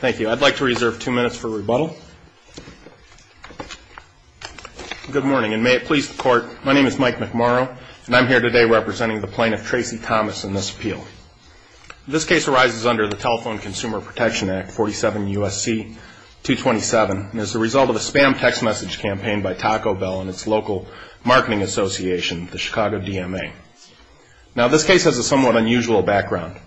Thank you. I'd like to reserve two minutes for rebuttal. Good morning, and may it please the court, my name is Mike McMorrow, and I'm here today representing the plaintiff, Tracie Thomas, in this appeal. This case arises under the Telephone Consumer Protection Act, 47 U.S.C. 227, and is the result of a spam text message campaign by Taco Bell and its local marketing association, the Chicago DMA. Now, this case has a somewhat unusual background.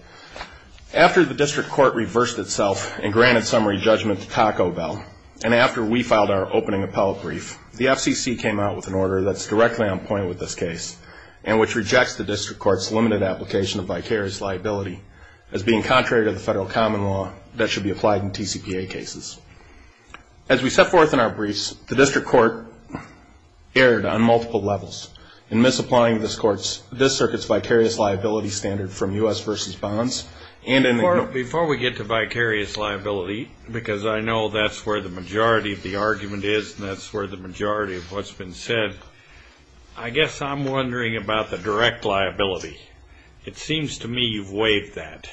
After the district court reversed itself, the plaintiff's lawyer, and granted summary judgment to Taco Bell, and after we filed our opening appellate brief, the FCC came out with an order that's directly on point with this case, and which rejects the district court's limited application of vicarious liability as being contrary to the federal common law that should be applied in TCPA cases. As we set forth in our briefs, the district court erred on multiple levels. In misapplying this circuit's vicarious liability standard from U.S. v. Bonds, and in Before we get to vicarious liability, because I know that's where the majority of the argument is, and that's where the majority of what's been said, I guess I'm wondering about the direct liability. It seems to me you've waived that.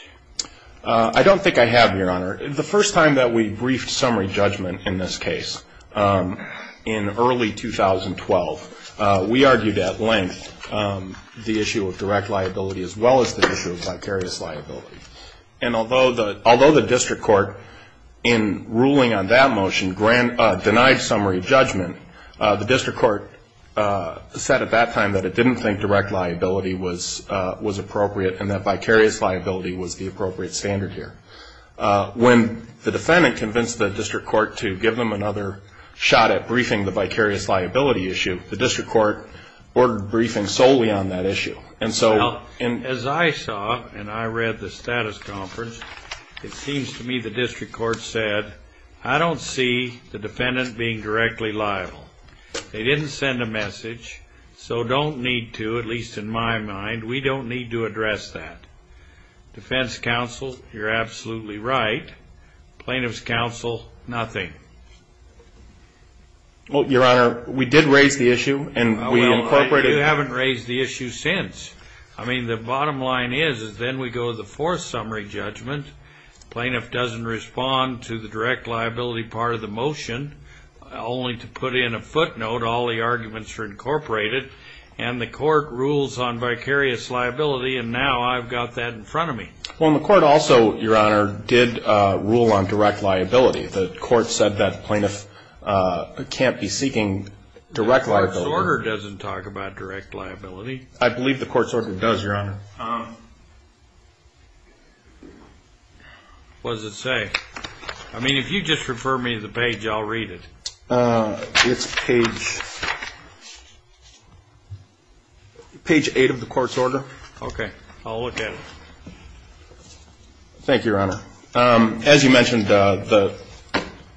I don't think I have, Your Honor. The first time that we briefed summary judgment in this case, in early 2012, we argued at length the issue of direct liability as well as the issue of vicarious liability. And although the district court, in ruling on that motion, denied summary judgment, the district court said at that time that it didn't think direct liability was appropriate and that vicarious liability was the appropriate standard here. When the defendant convinced the district court to give them another shot at briefing the vicarious liability issue, the district court ordered briefing solely on that issue. Well, as I saw, and I read the status conference, it seems to me the district court said, I don't see the defendant being directly liable. They didn't send a message, so don't need to, at least in my mind, we don't need to address that. Defense counsel, you're absolutely right. Plaintiff's counsel, nothing. Well, Your Honor, we did raise the issue, and we incorporated it. Well, you haven't raised the issue since. I mean, the bottom line is, is then we go to the fourth summary judgment. Plaintiff doesn't respond to the direct liability part of the motion, only to put in a footnote all the arguments are incorporated, and the court rules on vicarious liability, and now I've got that in front of me. Well, and the court also, Your Honor, did rule on direct liability. The court said that plaintiff can't be seeking direct liability. The court's order doesn't talk about direct liability. I believe the court's order does, Your Honor. What does it say? I mean, if you just refer me to the page, I'll read it. It's page 8 of the court's order. Okay. I'll look at it. Thank you, Your Honor. As you mentioned, the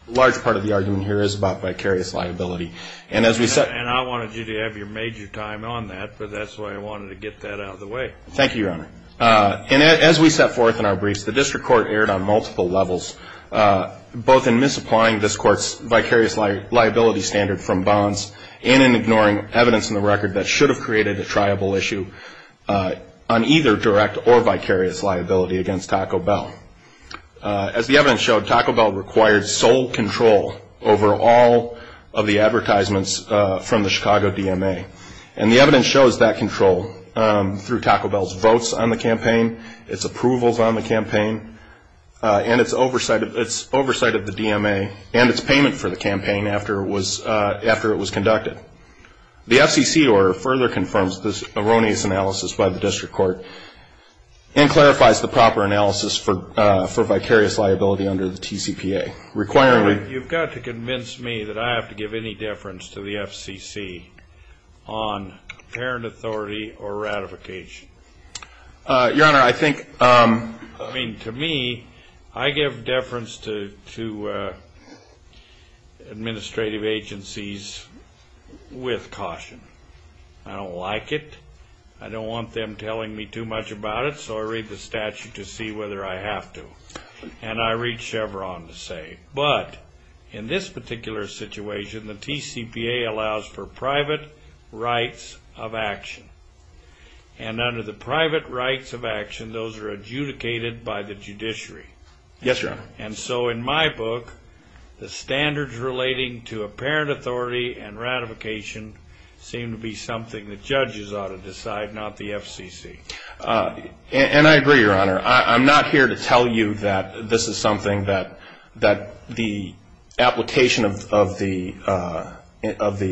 large part of the argument here is about vicarious liability. And as we said — And I wanted you to have your major time on that, but that's why I wanted to get that out of the way. Thank you, Your Honor. And as we set forth in our briefs, the district court erred on multiple levels, both in misapplying this court's vicarious liability standard from bonds and in ignoring evidence in the record that should have created a triable issue. on either direct or vicarious liability against Taco Bell. As the evidence showed, Taco Bell required sole control over all of the advertisements from the Chicago DMA. And the evidence shows that control through Taco Bell's votes on the campaign, its approvals on the campaign, and its oversight of the DMA and its payment for the campaign after it was conducted. The FCC order further confirms this erroneous analysis by the district court and clarifies the proper analysis for vicarious liability under the TCPA. You've got to convince me that I have to give any deference to the FCC on parent authority or ratification. Your Honor, I think — I mean, to me, I give deference to administrative agencies with caution. I don't like it. I don't want them telling me too much about it, so I read the statute to see whether I have to. And I read Chevron to say, but in this particular situation, the TCPA allows for private rights of action. And under the private rights of action, those are adjudicated by the judiciary. Yes, Your Honor. And so in my book, the standards relating to apparent authority and ratification seem to be something that judges ought to decide, not the FCC. And I agree, Your Honor. I'm not here to tell you that this is something that the application of the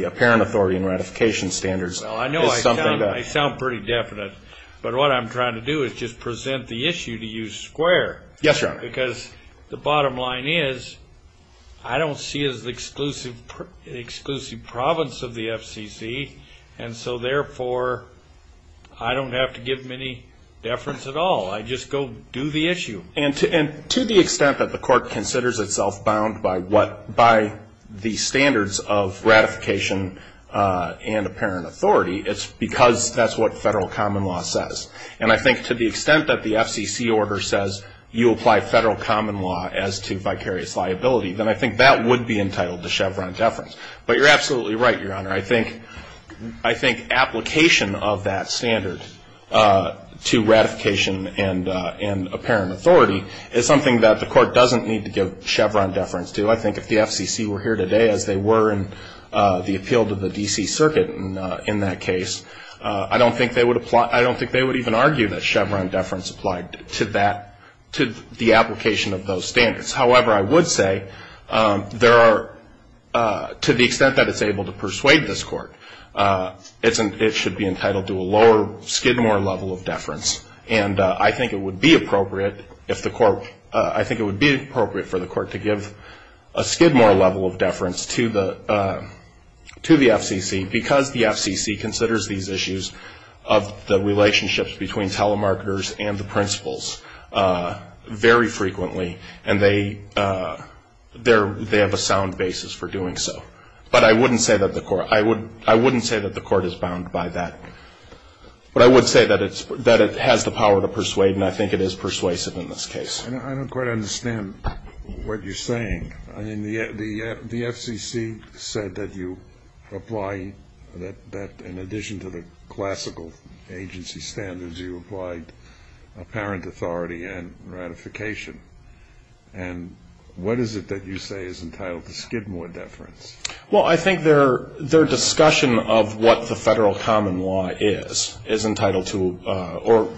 apparent authority and ratification standards is something that — I sound pretty definite, but what I'm trying to do is just present the issue to you square. Yes, Your Honor. Because the bottom line is, I don't see it as the exclusive province of the FCC, and so therefore, I don't have to give them any deference at all. I just go do the issue. And to the extent that the court considers itself bound by what — by the standards of ratification and apparent authority, it's because that's what federal common law says. And I think to the extent that the FCC order says you apply federal common law as to vicarious liability, then I think that would be entitled to Chevron deference. But you're absolutely right, Your Honor. I think application of that standard to ratification and apparent authority is something that the court doesn't need to give Chevron deference to. I think if the FCC were here today as they were in the appeal to the D.C. Circuit in that case, I don't think they would even argue that Chevron deference applied to that — to the application of those standards. However, I would say there are — to the extent that it's able to persuade this court, it should be entitled to a lower Skidmore level of deference. And I think it would be appropriate if the court — I think it would be appropriate for the court to give a Skidmore level of deference to the FCC because the FCC considers these issues of the relationships between telemarketers and the principals very frequently. And they have a sound basis for doing so. But I wouldn't say that the court — I wouldn't say that the court is bound by that. But I would say that it has the power to persuade, and I think it is persuasive in this case. I don't quite understand what you're saying. I mean, the FCC said that you apply — that in addition to the classical agency standards, you applied apparent authority and ratification. And what is it that you say is entitled to Skidmore deference? Well, I think their discussion of what the federal common law is is entitled to or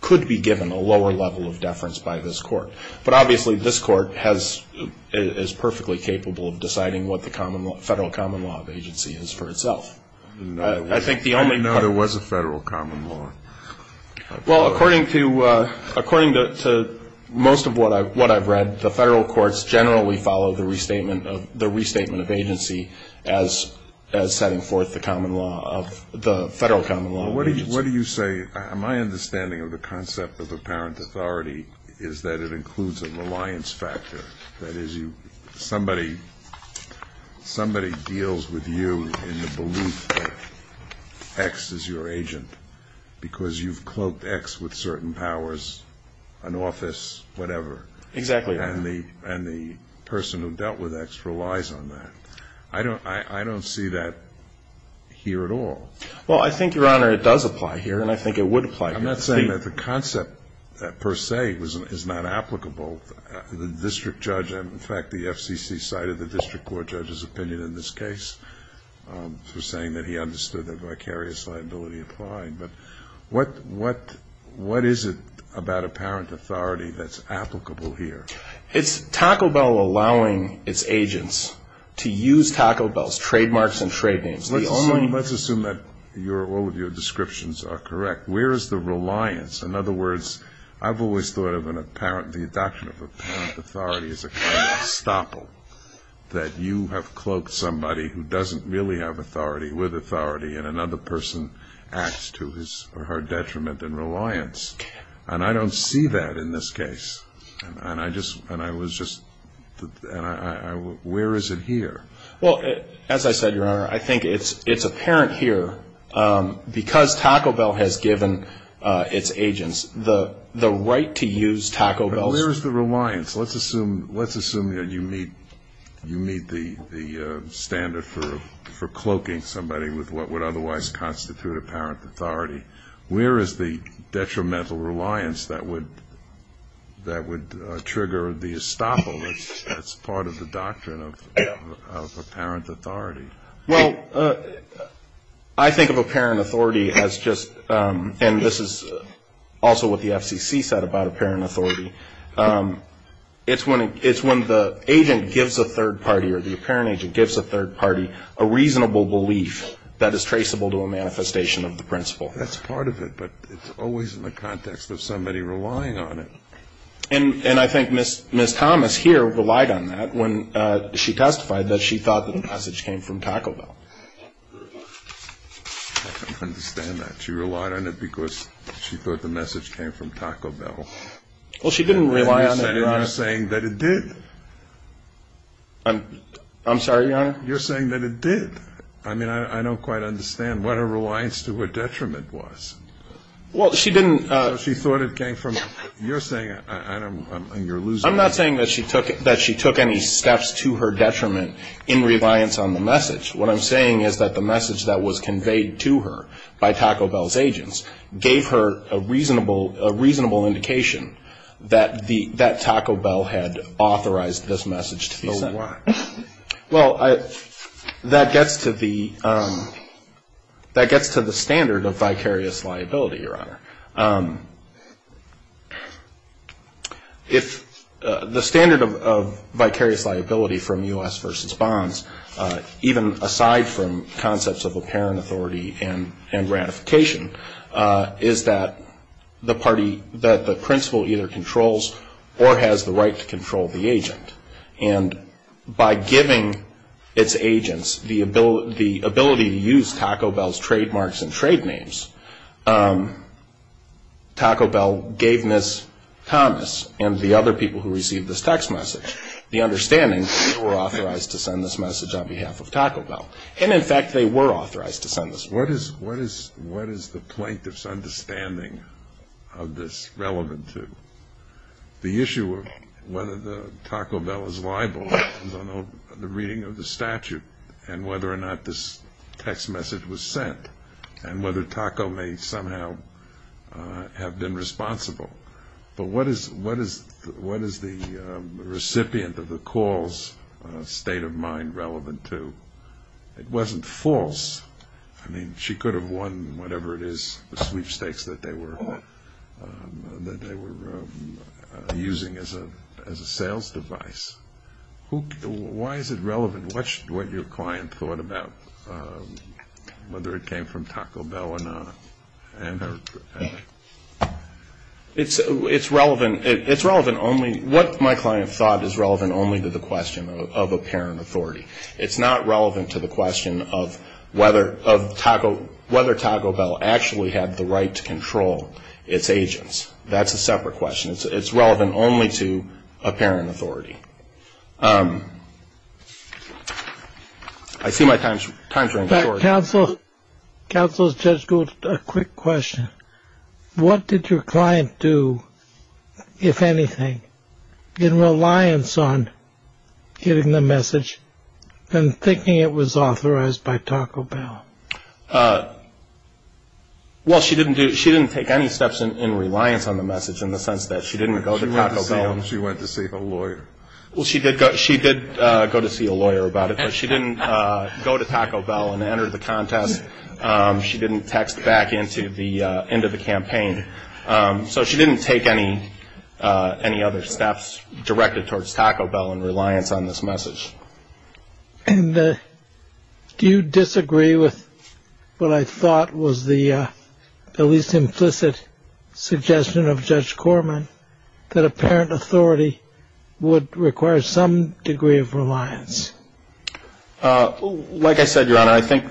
could be given a lower level of deference by this court. But obviously this court is perfectly capable of deciding what the federal common law of agency is for itself. No, there was a federal common law. Well, according to most of what I've read, the federal courts generally follow the restatement of agency as setting forth the federal common law of agency. My understanding of the concept of apparent authority is that it includes a reliance factor. That is, somebody deals with you in the belief that X is your agent because you've cloaked X with certain powers, an office, whatever. Exactly right. And the person who dealt with X relies on that. I don't see that here at all. Well, I think, Your Honor, it does apply here, and I think it would apply here. I'm not saying that the concept per se is not applicable. The district judge, in fact, the FCC cited the district court judge's opinion in this case for saying that he understood the vicarious liability applying. But what is it about apparent authority that's applicable here? It's Taco Bell allowing its agents to use Taco Bell's trademarks and trade names. Let's assume that all of your descriptions are correct. Where is the reliance? In other words, I've always thought of the adoption of apparent authority as a kind of estoppel, that you have cloaked somebody who doesn't really have authority with authority, and another person acts to his or her detriment in reliance. And I don't see that in this case. And I was just the ñ where is it here? Well, as I said, Your Honor, I think it's apparent here, because Taco Bell has given its agents the right to use Taco Bell's ñ But where is the reliance? Let's assume that you meet the standard for cloaking somebody with what would otherwise constitute apparent authority. Where is the detrimental reliance that would trigger the estoppel? That's part of the doctrine of apparent authority. Well, I think of apparent authority as just ñ and this is also what the FCC said about apparent authority. It's when the agent gives a third party or the apparent agent gives a third party a reasonable belief that is traceable to a manifestation of the principle. That's part of it, but it's always in the context of somebody relying on it. And I think Ms. Thomas here relied on that when she testified that she thought that the message came from Taco Bell. I don't understand that. She relied on it because she thought the message came from Taco Bell. Well, she didn't rely on it, Your Honor. And you're saying that it did. I'm sorry, Your Honor? You're saying that it did. I mean, I don't quite understand what her reliance to her detriment was. Well, she didn't ñ So she thought it came from ñ you're saying ñ and you're losing ñ I'm not saying that she took any steps to her detriment in reliance on the message. What I'm saying is that the message that was conveyed to her by Taco Bell's agents gave her a reasonable indication that Taco Bell had authorized this message to be sent. So why? Well, that gets to the standard of vicarious liability, Your Honor. The standard of vicarious liability from U.S. v. Bonds, even aside from concepts of apparent authority and ratification, is that the principle either controls or has the right to control the agent. And by giving its agents the ability to use Taco Bell's trademarks and trade names, Taco Bell gave Ms. Thomas and the other people who received this text message the understanding that they were authorized to send this message on behalf of Taco Bell. And, in fact, they were authorized to send this message. What is the plaintiff's understanding of this relevant to? The issue of whether Taco Bell is liable is on the reading of the statute and whether or not this text message was sent and whether Taco may somehow have been responsible. But what is the recipient of the call's state of mind relevant to? It wasn't false. I mean, she could have won whatever it is, the sweepstakes that they were using as a sales device. Why is it relevant? What your client thought about whether it came from Taco Bell or not? It's relevant only what my client thought is relevant only to the question of apparent authority. It's not relevant to the question of whether Taco Bell actually had the right to control its agents. That's a separate question. It's relevant only to apparent authority. I see my time's running short. Counsel, Judge Gould, a quick question. What did your client do, if anything, in reliance on getting the message and thinking it was authorized by Taco Bell? Well, she didn't take any steps in reliance on the message in the sense that she didn't go to Taco Bell. She went to see a lawyer. Well, she did go to see a lawyer about it, but she didn't go to Taco Bell and enter the contest. She didn't text back into the campaign. So she didn't take any other steps directed towards Taco Bell in reliance on this message. And do you disagree with what I thought was the least implicit suggestion of Judge Corman, that apparent authority would require some degree of reliance? Like I said, Your Honor, I think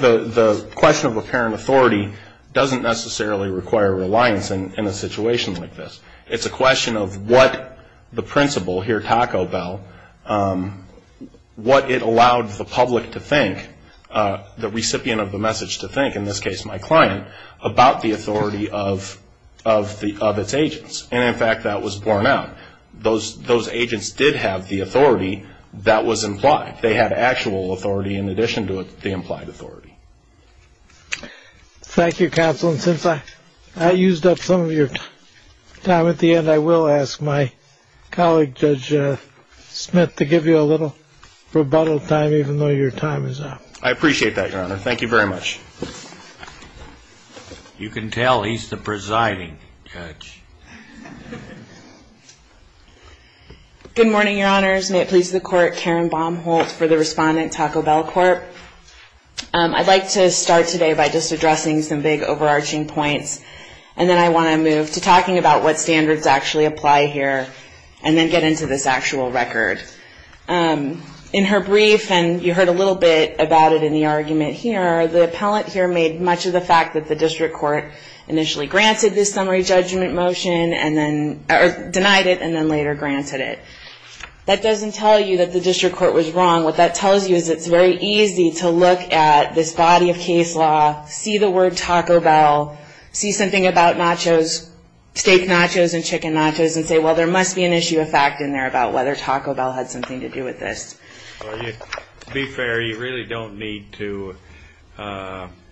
the question of apparent authority doesn't necessarily require reliance in a situation like this. It's a question of what the principle here at Taco Bell, what it allowed the public to think, the recipient of the message to think, in this case my client, about the authority of its agents. And, in fact, that was borne out. Those agents did have the authority that was implied. They had actual authority in addition to the implied authority. Thank you, counsel. And since I used up some of your time at the end, I will ask my colleague, Judge Smith, to give you a little rebuttal time, even though your time is up. I appreciate that, Your Honor. Thank you very much. You can tell he's the presiding judge. Good morning, Your Honors. May it please the Court, Karen Baumholtz for the respondent, Taco Bell Corp. I'd like to start today by just addressing some big overarching points, and then I want to move to talking about what standards actually apply here, and then get into this actual record. In her brief, and you heard a little bit about it in the argument here, the appellant here made much of the fact that the district court initially granted this summary judgment motion and then denied it and then later granted it. That doesn't tell you that the district court was wrong. What that tells you is it's very easy to look at this body of case law, see the word Taco Bell, see something about nachos, steak nachos and chicken nachos, and say, well, there must be an issue of fact in there about whether Taco Bell had something to do with this. To be fair, you really don't need to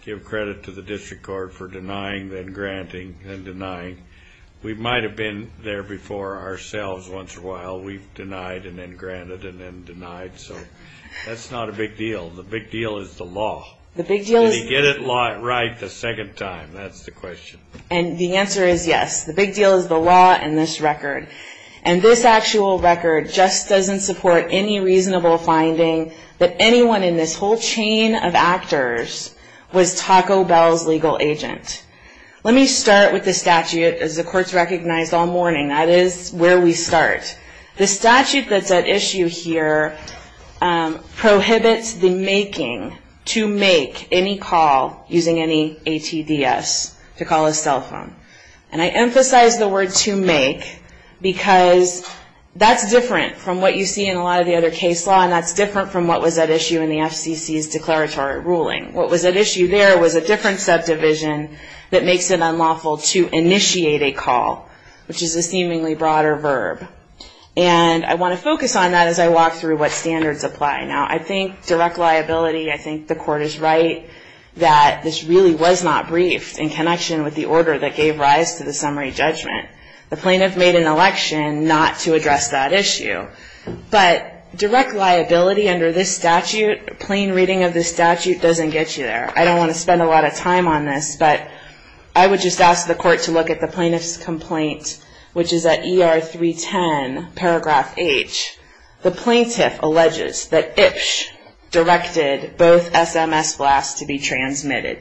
give credit to the district court for denying, then granting, then denying. We might have been there before ourselves once in a while. We've denied and then granted and then denied. So that's not a big deal. The big deal is the law. Did he get it right the second time? That's the question. And the answer is yes. The big deal is the law and this record. And this actual record just doesn't support any reasonable finding that anyone in this whole chain of actors was Taco Bell's legal agent. Let me start with the statute, as the courts recognized all morning. That is where we start. The statute that's at issue here prohibits the making, to make, any call using any ATDS to call a cell phone. And I emphasize the word to make because that's different from what you see in a lot of the other case law and that's different from what was at issue in the FCC's declaratory ruling. What was at issue there was a different subdivision that makes it unlawful to initiate a call, which is a seemingly broader verb. And I want to focus on that as I walk through what standards apply. Now, I think direct liability, I think the court is right that this really was not briefed in connection with the order that gave rise to the summary judgment. The plaintiff made an election not to address that issue. But direct liability under this statute, plain reading of this statute doesn't get you there. I don't want to spend a lot of time on this, but I would just ask the court to look at the plaintiff's complaint, which is at ER 310, paragraph H. The plaintiff alleges that Ipsh directed both SMS blasts to be transmitted.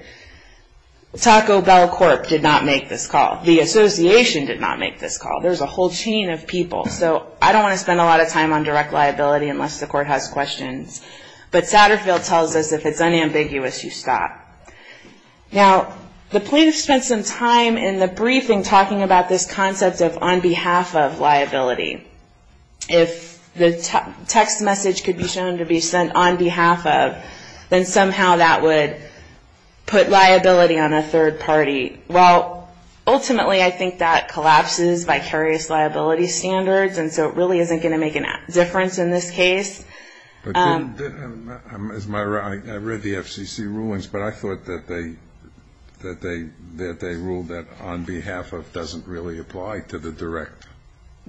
Taco Bell Corp. did not make this call. The association did not make this call. There's a whole chain of people. So I don't want to spend a lot of time on direct liability unless the court has questions. But Satterfield tells us if it's unambiguous, you stop. Now, the plaintiff spent some time in the briefing talking about this concept of on behalf of liability. If the text message could be shown to be sent on behalf of, then somehow that would put liability on a third party. Well, ultimately, I think that collapses vicarious liability standards, and so it really isn't going to make a difference in this case. I read the FCC rulings, but I thought that they ruled that on behalf of doesn't really apply to the direct.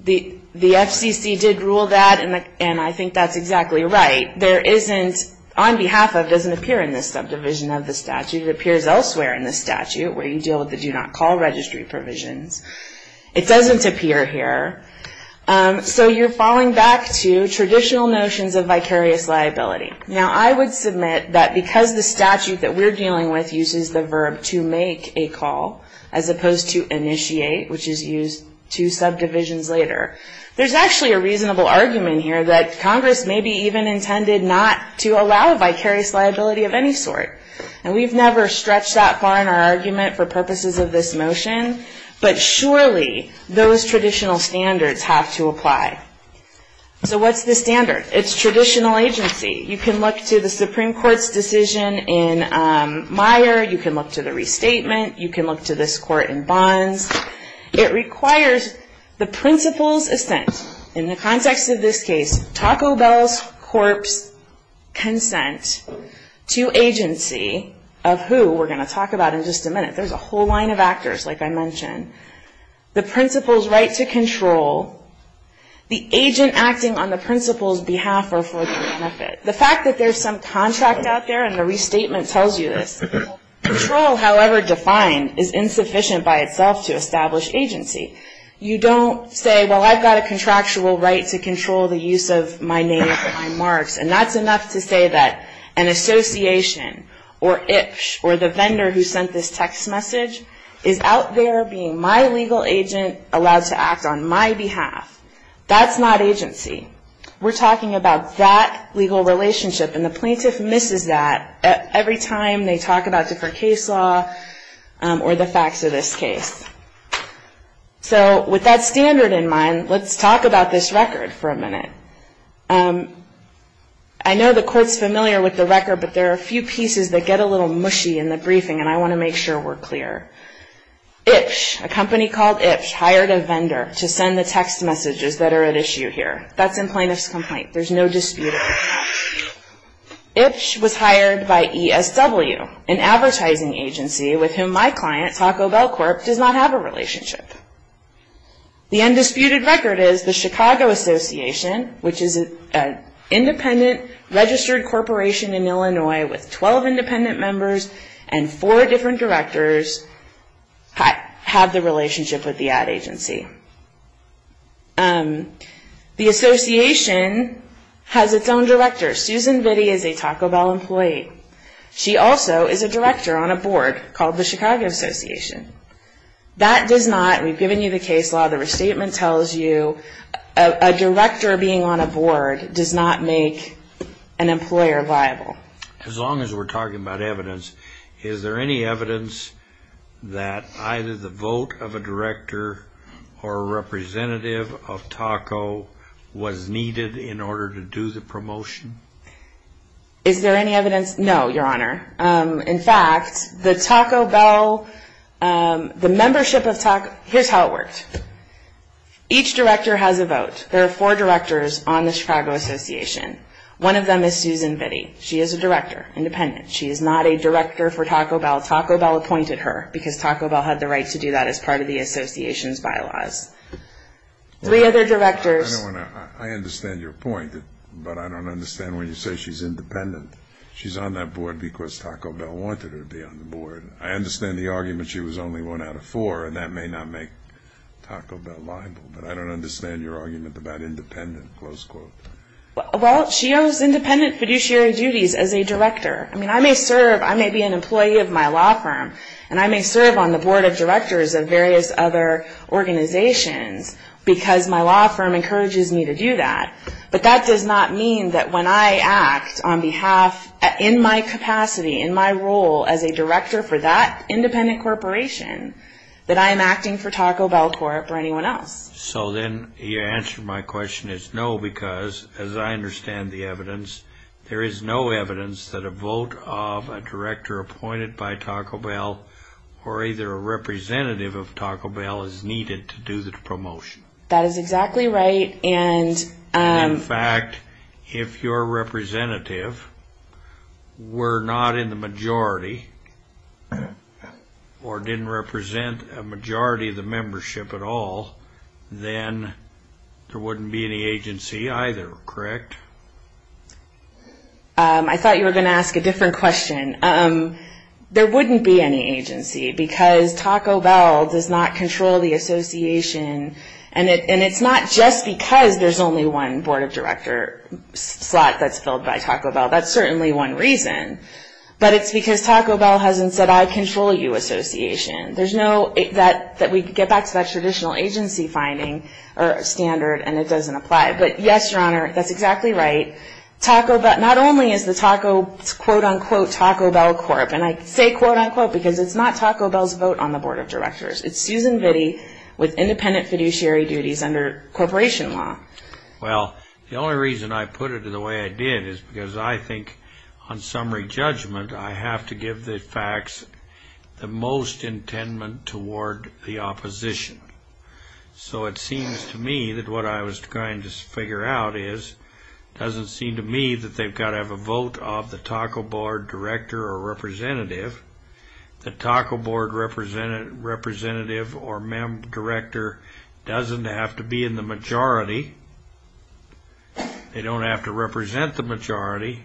The FCC did rule that, and I think that's exactly right. There isn't on behalf of doesn't appear in this subdivision of the statute. It appears elsewhere in the statute where you deal with the do not call registry provisions. It doesn't appear here. So you're falling back to traditional notions of vicarious liability. Now, I would submit that because the statute that we're dealing with uses the verb to make a call, as opposed to initiate, which is used two subdivisions later. There's actually a reasonable argument here that Congress maybe even intended not to allow vicarious liability of any sort, and we've never stretched that far in our argument for purposes of this motion, but surely those traditional standards have to apply. So what's the standard? It's traditional agency. You can look to the Supreme Court's decision in Meyer. You can look to the restatement. You can look to this court in Bonds. It requires the principal's assent, in the context of this case, Taco Bell's corpse consent to agency, of who we're going to talk about in just a minute. There's a whole line of actors, like I mentioned. The principal's right to control. The agent acting on the principal's behalf or for their benefit. The fact that there's some contract out there and the restatement tells you this. Control, however defined, is insufficient by itself to establish agency. You don't say, well, I've got a contractual right to control the use of my name and my marks, and that's enough to say that an association or IPSH or the vendor who sent this text message is out there being my legal agent allowed to act on my behalf. That's not agency. We're talking about that legal relationship, and the plaintiff misses that every time they talk about different case law or the facts of this case. So with that standard in mind, let's talk about this record for a minute. I know the court's familiar with the record, but there are a few pieces that get a little mushy in the briefing, and I want to make sure we're clear. IPSH, a company called IPSH, hired a vendor to send the text messages that are at issue here. That's in plaintiff's complaint. There's no dispute. IPSH was hired by ESW, an advertising agency with whom my client, Taco Bell Corp., does not have a relationship. The undisputed record is the Chicago Association, which is an independent registered corporation in Illinois with 12 independent members and four different directors have the relationship with the ad agency. The association has its own director. Susan Vitti is a Taco Bell employee. She also is a director on a board called the Chicago Association. That does not, we've given you the case law, the restatement tells you, a director being on a board does not make an employer viable. As long as we're talking about evidence, is there any evidence that either the vote of a director or a representative of Taco was needed in order to do the promotion? Is there any evidence? No, Your Honor. In fact, the Taco Bell, the membership of Taco, here's how it worked. Each director has a vote. There are four directors on the Chicago Association. One of them is Susan Vitti. She is a director, independent. She is not a director for Taco Bell. Taco Bell appointed her because Taco Bell had the right to do that as part of the association's bylaws. Three other directors. I understand your point, but I don't understand when you say she's independent. She's on that board because Taco Bell wanted her to be on the board. I understand the argument she was only one out of four, and that may not make Taco Bell viable, but I don't understand your argument about independent, close quote. Well, she owes independent fiduciary duties as a director. I mean, I may serve, I may be an employee of my law firm, and I may serve on the board of directors of various other organizations because my law firm encourages me to do that, but that does not mean that when I act on behalf, in my capacity, in my role as a director for that independent corporation, that I am acting for Taco Bell Corp. or anyone else. So then your answer to my question is no, because, as I understand the evidence, there is no evidence that a vote of a director appointed by Taco Bell or either a representative of Taco Bell is needed to do the promotion. That is exactly right. In fact, if your representative were not in the majority or didn't represent a majority of the membership at all, then there wouldn't be any agency either, correct? I thought you were going to ask a different question. There wouldn't be any agency because Taco Bell does not control the association, and it's not just because there's only one board of director slot that's filled by Taco Bell. That's certainly one reason, but it's because Taco Bell hasn't said, I control you association. There's no, that we get back to that traditional agency finding or standard, and it doesn't apply. But yes, Your Honor, that's exactly right. Not only is the Taco, quote-unquote, Taco Bell Corp., and I say quote-unquote because it's not Taco Bell's vote on the board of directors. It's Susan Vitti with independent fiduciary duties under corporation law. Well, the only reason I put it in the way I did is because I think on summary judgment, I have to give the facts the most intendment toward the opposition. So it seems to me that what I was trying to figure out is, it doesn't seem to me that they've got to have a vote of the taco board director or representative. The taco board representative or member director doesn't have to be in the majority. They don't have to represent the majority.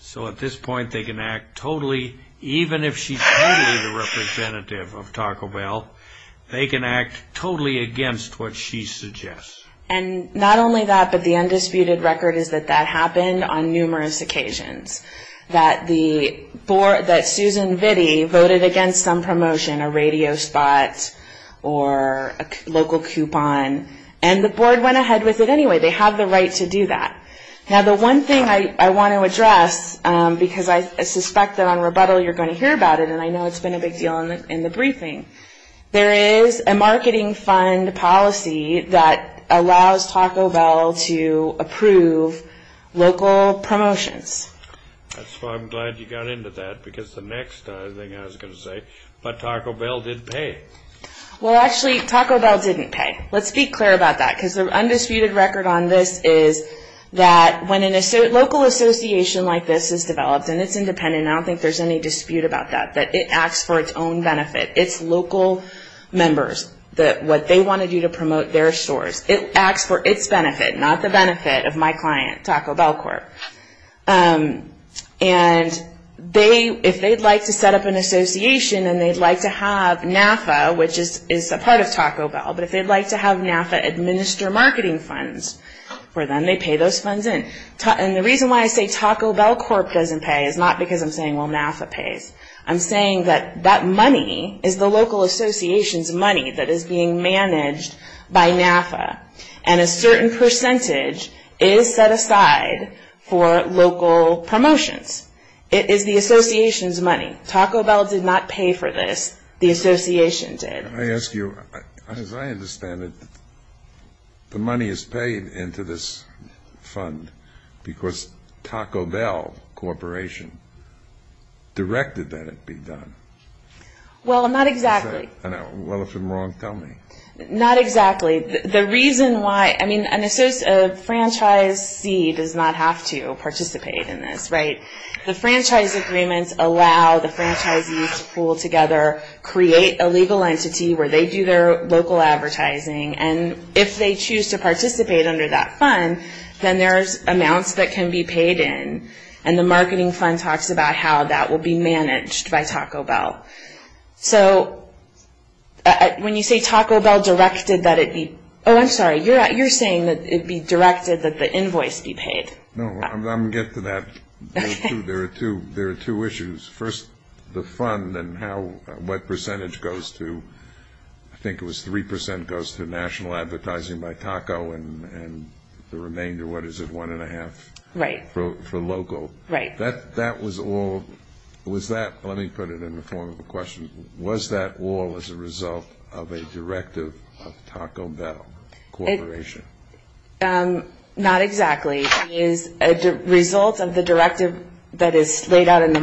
So at this point, they can act totally, even if she's the representative of Taco Bell, they can act totally against what she suggests. And not only that, but the undisputed record is that that happened on numerous occasions, that Susan Vitti voted against some promotion, a radio spot or a local coupon, and the board went ahead with it anyway. They have the right to do that. Now, the one thing I want to address, because I suspect that on rebuttal you're going to hear about it, and I know it's been a big deal in the briefing, there is a marketing fund policy that allows Taco Bell to approve local promotions. That's why I'm glad you got into that, because the next thing I was going to say, but Taco Bell did pay. Well, actually, Taco Bell didn't pay. Let's be clear about that, because the undisputed record on this is that when a local association like this is developed, and it's independent, I don't think there's any dispute about that, that it acts for its own benefit. It's local members, what they want to do to promote their stores. It acts for its benefit, not the benefit of my client, Taco Bell Corp. And if they'd like to set up an association and they'd like to have NAFA, which is a part of Taco Bell, but if they'd like to have NAFA administer marketing funds for them, they pay those funds in. And the reason why I say Taco Bell Corp. doesn't pay is not because I'm saying, well, NAFA pays. I'm saying that that money is the local association's money that is being managed by NAFA, and a certain percentage is set aside for local promotions. It is the association's money. Taco Bell did not pay for this. The association did. Can I ask you, as I understand it, the money is paid into this fund because Taco Bell Corp. directed that it be done. Well, not exactly. I know. Well, if I'm wrong, tell me. Not exactly. The reason why, I mean, a franchisee does not have to participate in this, right? The franchise agreements allow the franchisees to pool together, create a legal entity where they do their local advertising, and if they choose to participate under that fund, then there's amounts that can be paid in, and the marketing fund talks about how that will be managed by Taco Bell. So when you say Taco Bell directed that it be, oh, I'm sorry. You're saying that it be directed that the invoice be paid. No, I'm going to get to that. There are two issues. First, the fund and what percentage goes to, I think it was 3% goes to national advertising by Taco and the remainder, what is it, one and a half? Right. For local. Right. That was all, was that, let me put it in the form of a question, was that all as a result of a directive of Taco Bell Corporation? Not exactly. It is a result of the directive that is laid out in the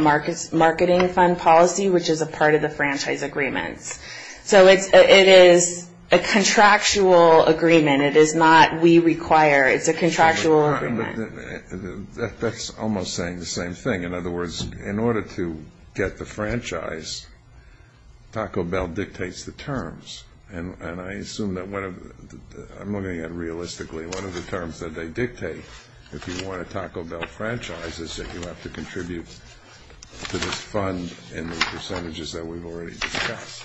marketing fund policy, which is a part of the franchise agreements. So it is a contractual agreement. It is not we require. It's a contractual agreement. That's almost saying the same thing. In other words, in order to get the franchise, Taco Bell dictates the terms, and I assume that one of the, I'm looking at realistically one of the terms that they dictate, if you want a Taco Bell franchise is that you have to contribute to this fund in the percentages that we've already discussed.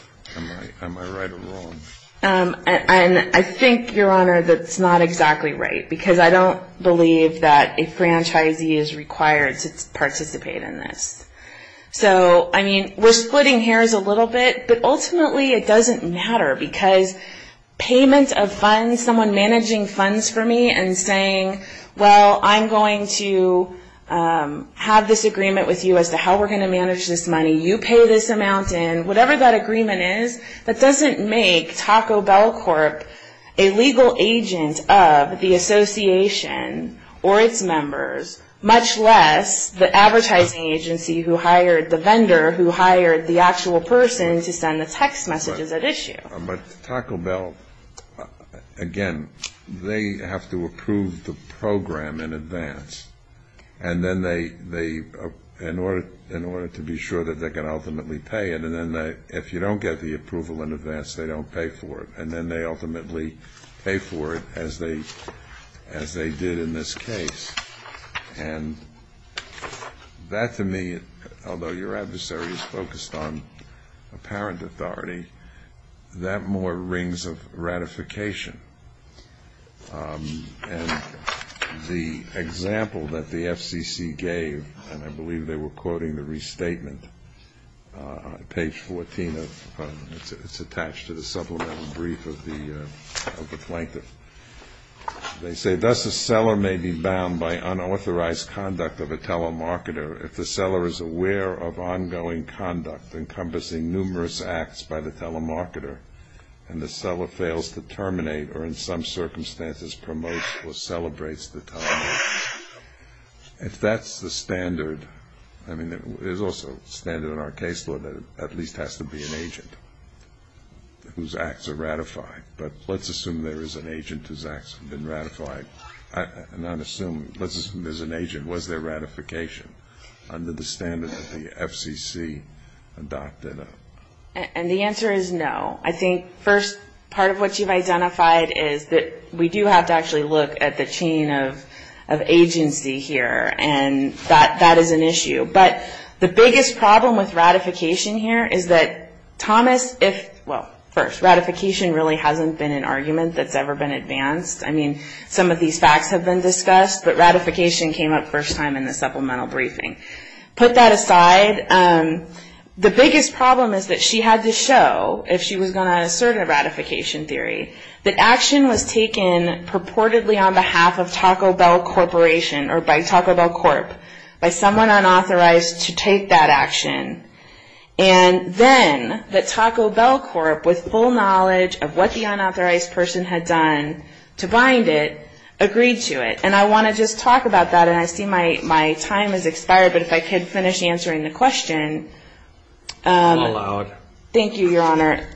Am I right or wrong? I think, Your Honor, that's not exactly right, because I don't believe that a franchisee is required to participate in this. So, I mean, we're splitting hairs a little bit, but ultimately it doesn't matter, because payment of funds, someone managing funds for me and saying, well, I'm going to have this agreement with you as to how we're going to manage this money, you pay this amount in, whatever that agreement is, that doesn't make Taco Bell Corp. a legal agent of the association or its members, much less the advertising agency who hired the vendor, who hired the actual person to send the text messages at issue. But Taco Bell, again, they have to approve the program in advance, and then they, in order to be sure that they can ultimately pay it, and then if you don't get the approval in advance, they don't pay for it, and then they ultimately pay for it as they did in this case. And that, to me, although your adversary is focused on apparent authority, that more rings of ratification. And the example that the FCC gave, and I believe they were quoting the restatement, page 14, it's attached to the supplemental brief of the plaintiff. They say, thus a seller may be bound by unauthorized conduct of a telemarketer if the seller is aware of ongoing conduct encompassing numerous acts by the telemarketer and the seller fails to terminate or in some circumstances promotes or celebrates the telemarketer. If that's the standard, I mean, there's also a standard in our case law that at least has to be an agent whose acts are ratified. But let's assume there is an agent whose acts have been ratified. Let's assume there's an agent. Was there ratification under the standard that the FCC adopted? And the answer is no. I think, first, part of what you've identified is that we do have to actually look at the chain of agency here, and that is an issue. But the biggest problem with ratification here is that Thomas, if, well, first, ratification really hasn't been an argument that's ever been advanced. I mean, some of these facts have been discussed, but ratification came up first time in the supplemental briefing. Put that aside, the biggest problem is that she had to show, if she was going to assert a ratification theory, that action was taken purportedly on behalf of Taco Bell Corporation or by Taco Bell Corp., by someone unauthorized to take that action. And then the Taco Bell Corp., with full knowledge of what the unauthorized person had done to bind it, agreed to it. And I want to just talk about that, and I see my time has expired, but if I could finish answering the question. I'm allowed. Thank you, Your Honor.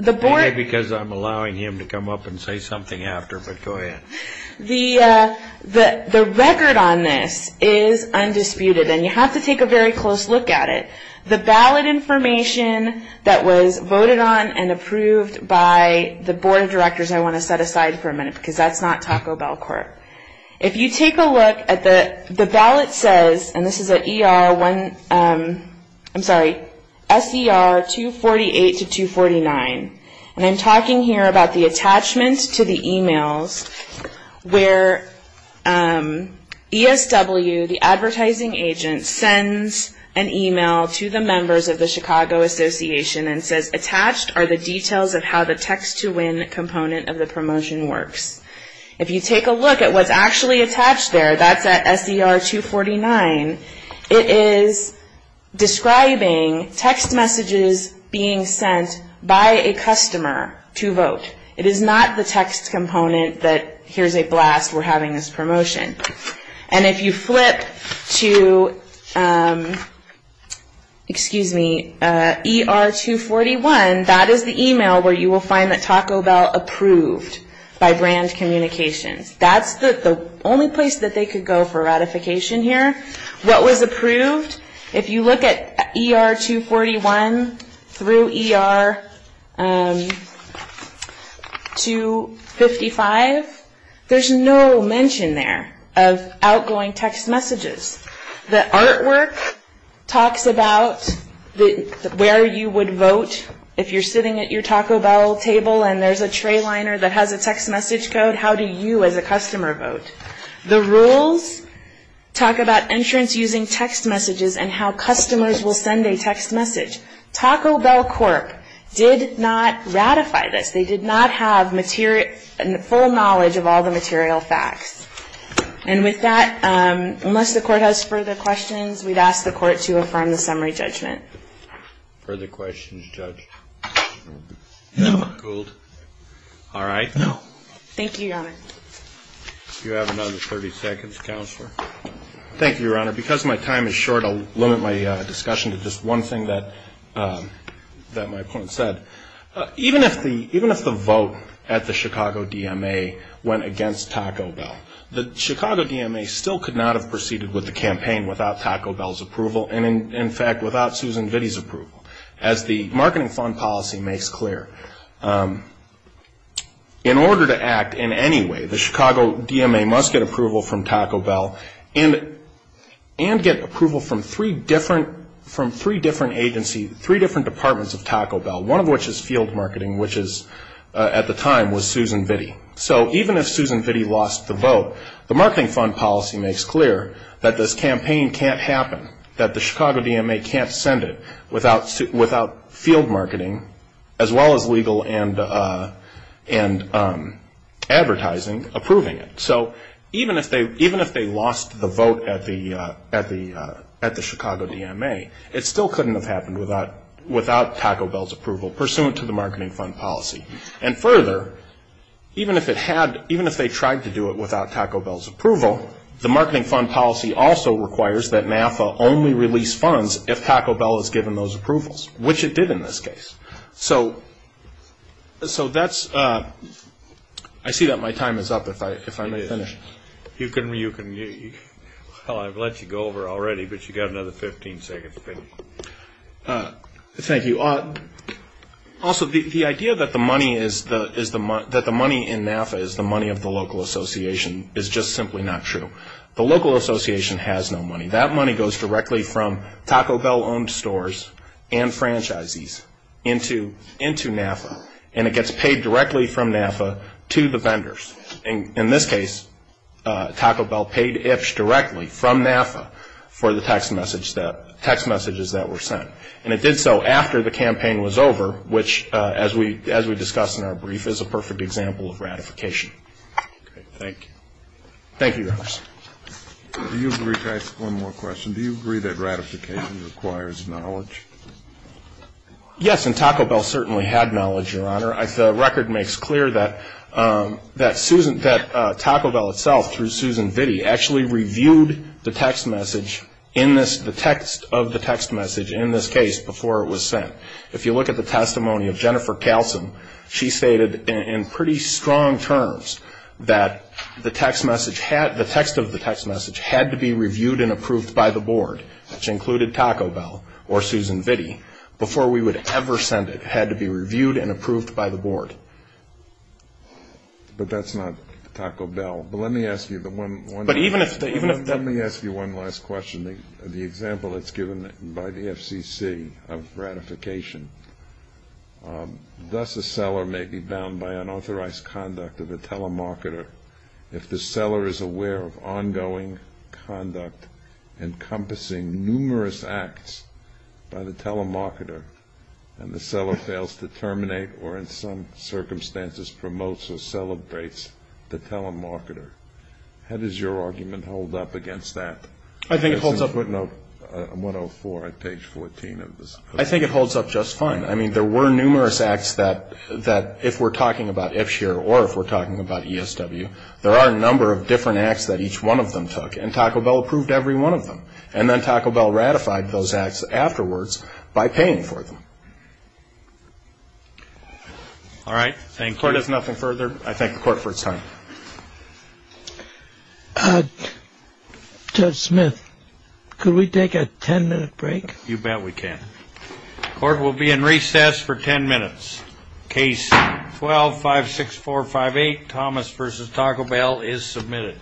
Maybe because I'm allowing him to come up and say something after, but go ahead. The record on this is undisputed, and you have to take a very close look at it. The ballot information that was voted on and approved by the board of directors, I want to set aside for a minute because that's not Taco Bell Corp. If you take a look at the ballot says, and this is an SER 248-249, and I'm talking here about the attachment to the emails where ESW, the advertising agent, sends an email to the members of the Chicago Association and says, attached are the details of how the text-to-win component of the promotion works. If you take a look at what's actually attached there, that's at SER 249, it is describing text messages being sent by a customer to vote. It is not the text component that here's a blast, we're having this promotion. And if you flip to ER 241, that is the email where you will find that Taco Bell approved by brand communications. That's the only place that they could go for ratification here. What was approved, if you look at ER 241 through ER 255, there's no mention there of outgoing text messages. The artwork talks about where you would vote if you're sitting at your Taco Bell table and there's a tray liner that has a text message code, how do you as a customer vote? The rules talk about entrance using text messages and how customers will send a text message. Taco Bell Corp. did not ratify this. They did not have full knowledge of all the material facts. And with that, unless the Court has further questions, we'd ask the Court to affirm the summary judgment. Further questions, Judge Gould? All right. Thank you, Your Honor. You have another 30 seconds, Counselor. Thank you, Your Honor. Because my time is short, I'll limit my discussion to just one thing that my opponent said. Even if the vote at the Chicago DMA went against Taco Bell, the Chicago DMA still could not have proceeded with the campaign without Taco Bell's approval, and, in fact, without Susan Vitti's approval, as the marketing fund policy makes clear. In order to act in any way, the Chicago DMA must get approval from Taco Bell and get approval from three different agencies, three different departments of Taco Bell, one of which is field marketing, which at the time was Susan Vitti. So even if Susan Vitti lost the vote, the marketing fund policy makes clear that this campaign can't happen, that the Chicago DMA can't send it without field marketing, as well as legal and advertising approving it. So even if they lost the vote at the Chicago DMA, it still couldn't have happened without Taco Bell's approval pursuant to the marketing fund policy. And further, even if they tried to do it without Taco Bell's approval, the marketing fund policy also requires that NAFA only release funds if Taco Bell has given those approvals, which it did in this case. So that's – I see that my time is up, if I may finish. You can – well, I've let you go over already, but you've got another 15 seconds. Thank you. Also, the idea that the money in NAFA is the money of the local association is just simply not true. The local association has no money. That money goes directly from Taco Bell-owned stores and franchises into NAFA, and it gets paid directly from NAFA to the vendors. In this case, Taco Bell paid Ipsch directly from NAFA for the text messages that were sent. And it did so after the campaign was over, which, as we discussed in our brief, is a perfect example of ratification. Thank you. Thank you, Your Honor. Do you agree – can I ask one more question? Do you agree that ratification requires knowledge? Yes, and Taco Bell certainly had knowledge, Your Honor. The record makes clear that Taco Bell itself, through Susan Vitti, actually reviewed the text message in this – the text of the text message in this case before it was sent. If you look at the testimony of Jennifer Kallsen, she stated in pretty strong terms that the text message – the text of the text message had to be reviewed and approved by the board, which included Taco Bell or Susan Vitti, before we would ever send it. It had to be reviewed and approved by the board. But that's not Taco Bell. But let me ask you the one – But even if – even if – Let me ask you one last question. The example that's given by the FCC of ratification, thus a seller may be bound by unauthorized conduct of a telemarketer if the seller is aware of ongoing conduct encompassing numerous acts by the telemarketer and the seller fails to terminate or in some circumstances promotes or celebrates the telemarketer. How does your argument hold up against that? I think it holds up – It's in footnote 104 on page 14 of this – I think it holds up just fine. I mean, there were numerous acts that – that if we're talking about FSHR or if we're talking about ESW, there are a number of different acts that each one of them took, and Taco Bell approved every one of them. And then Taco Bell ratified those acts afterwards by paying for them. All right. Thank you. Court has nothing further. I thank the court for its time. Judge Smith, could we take a 10-minute break? You bet we can. Court will be in recess for 10 minutes. Case 12-56458, Thomas v. Taco Bell, is submitted.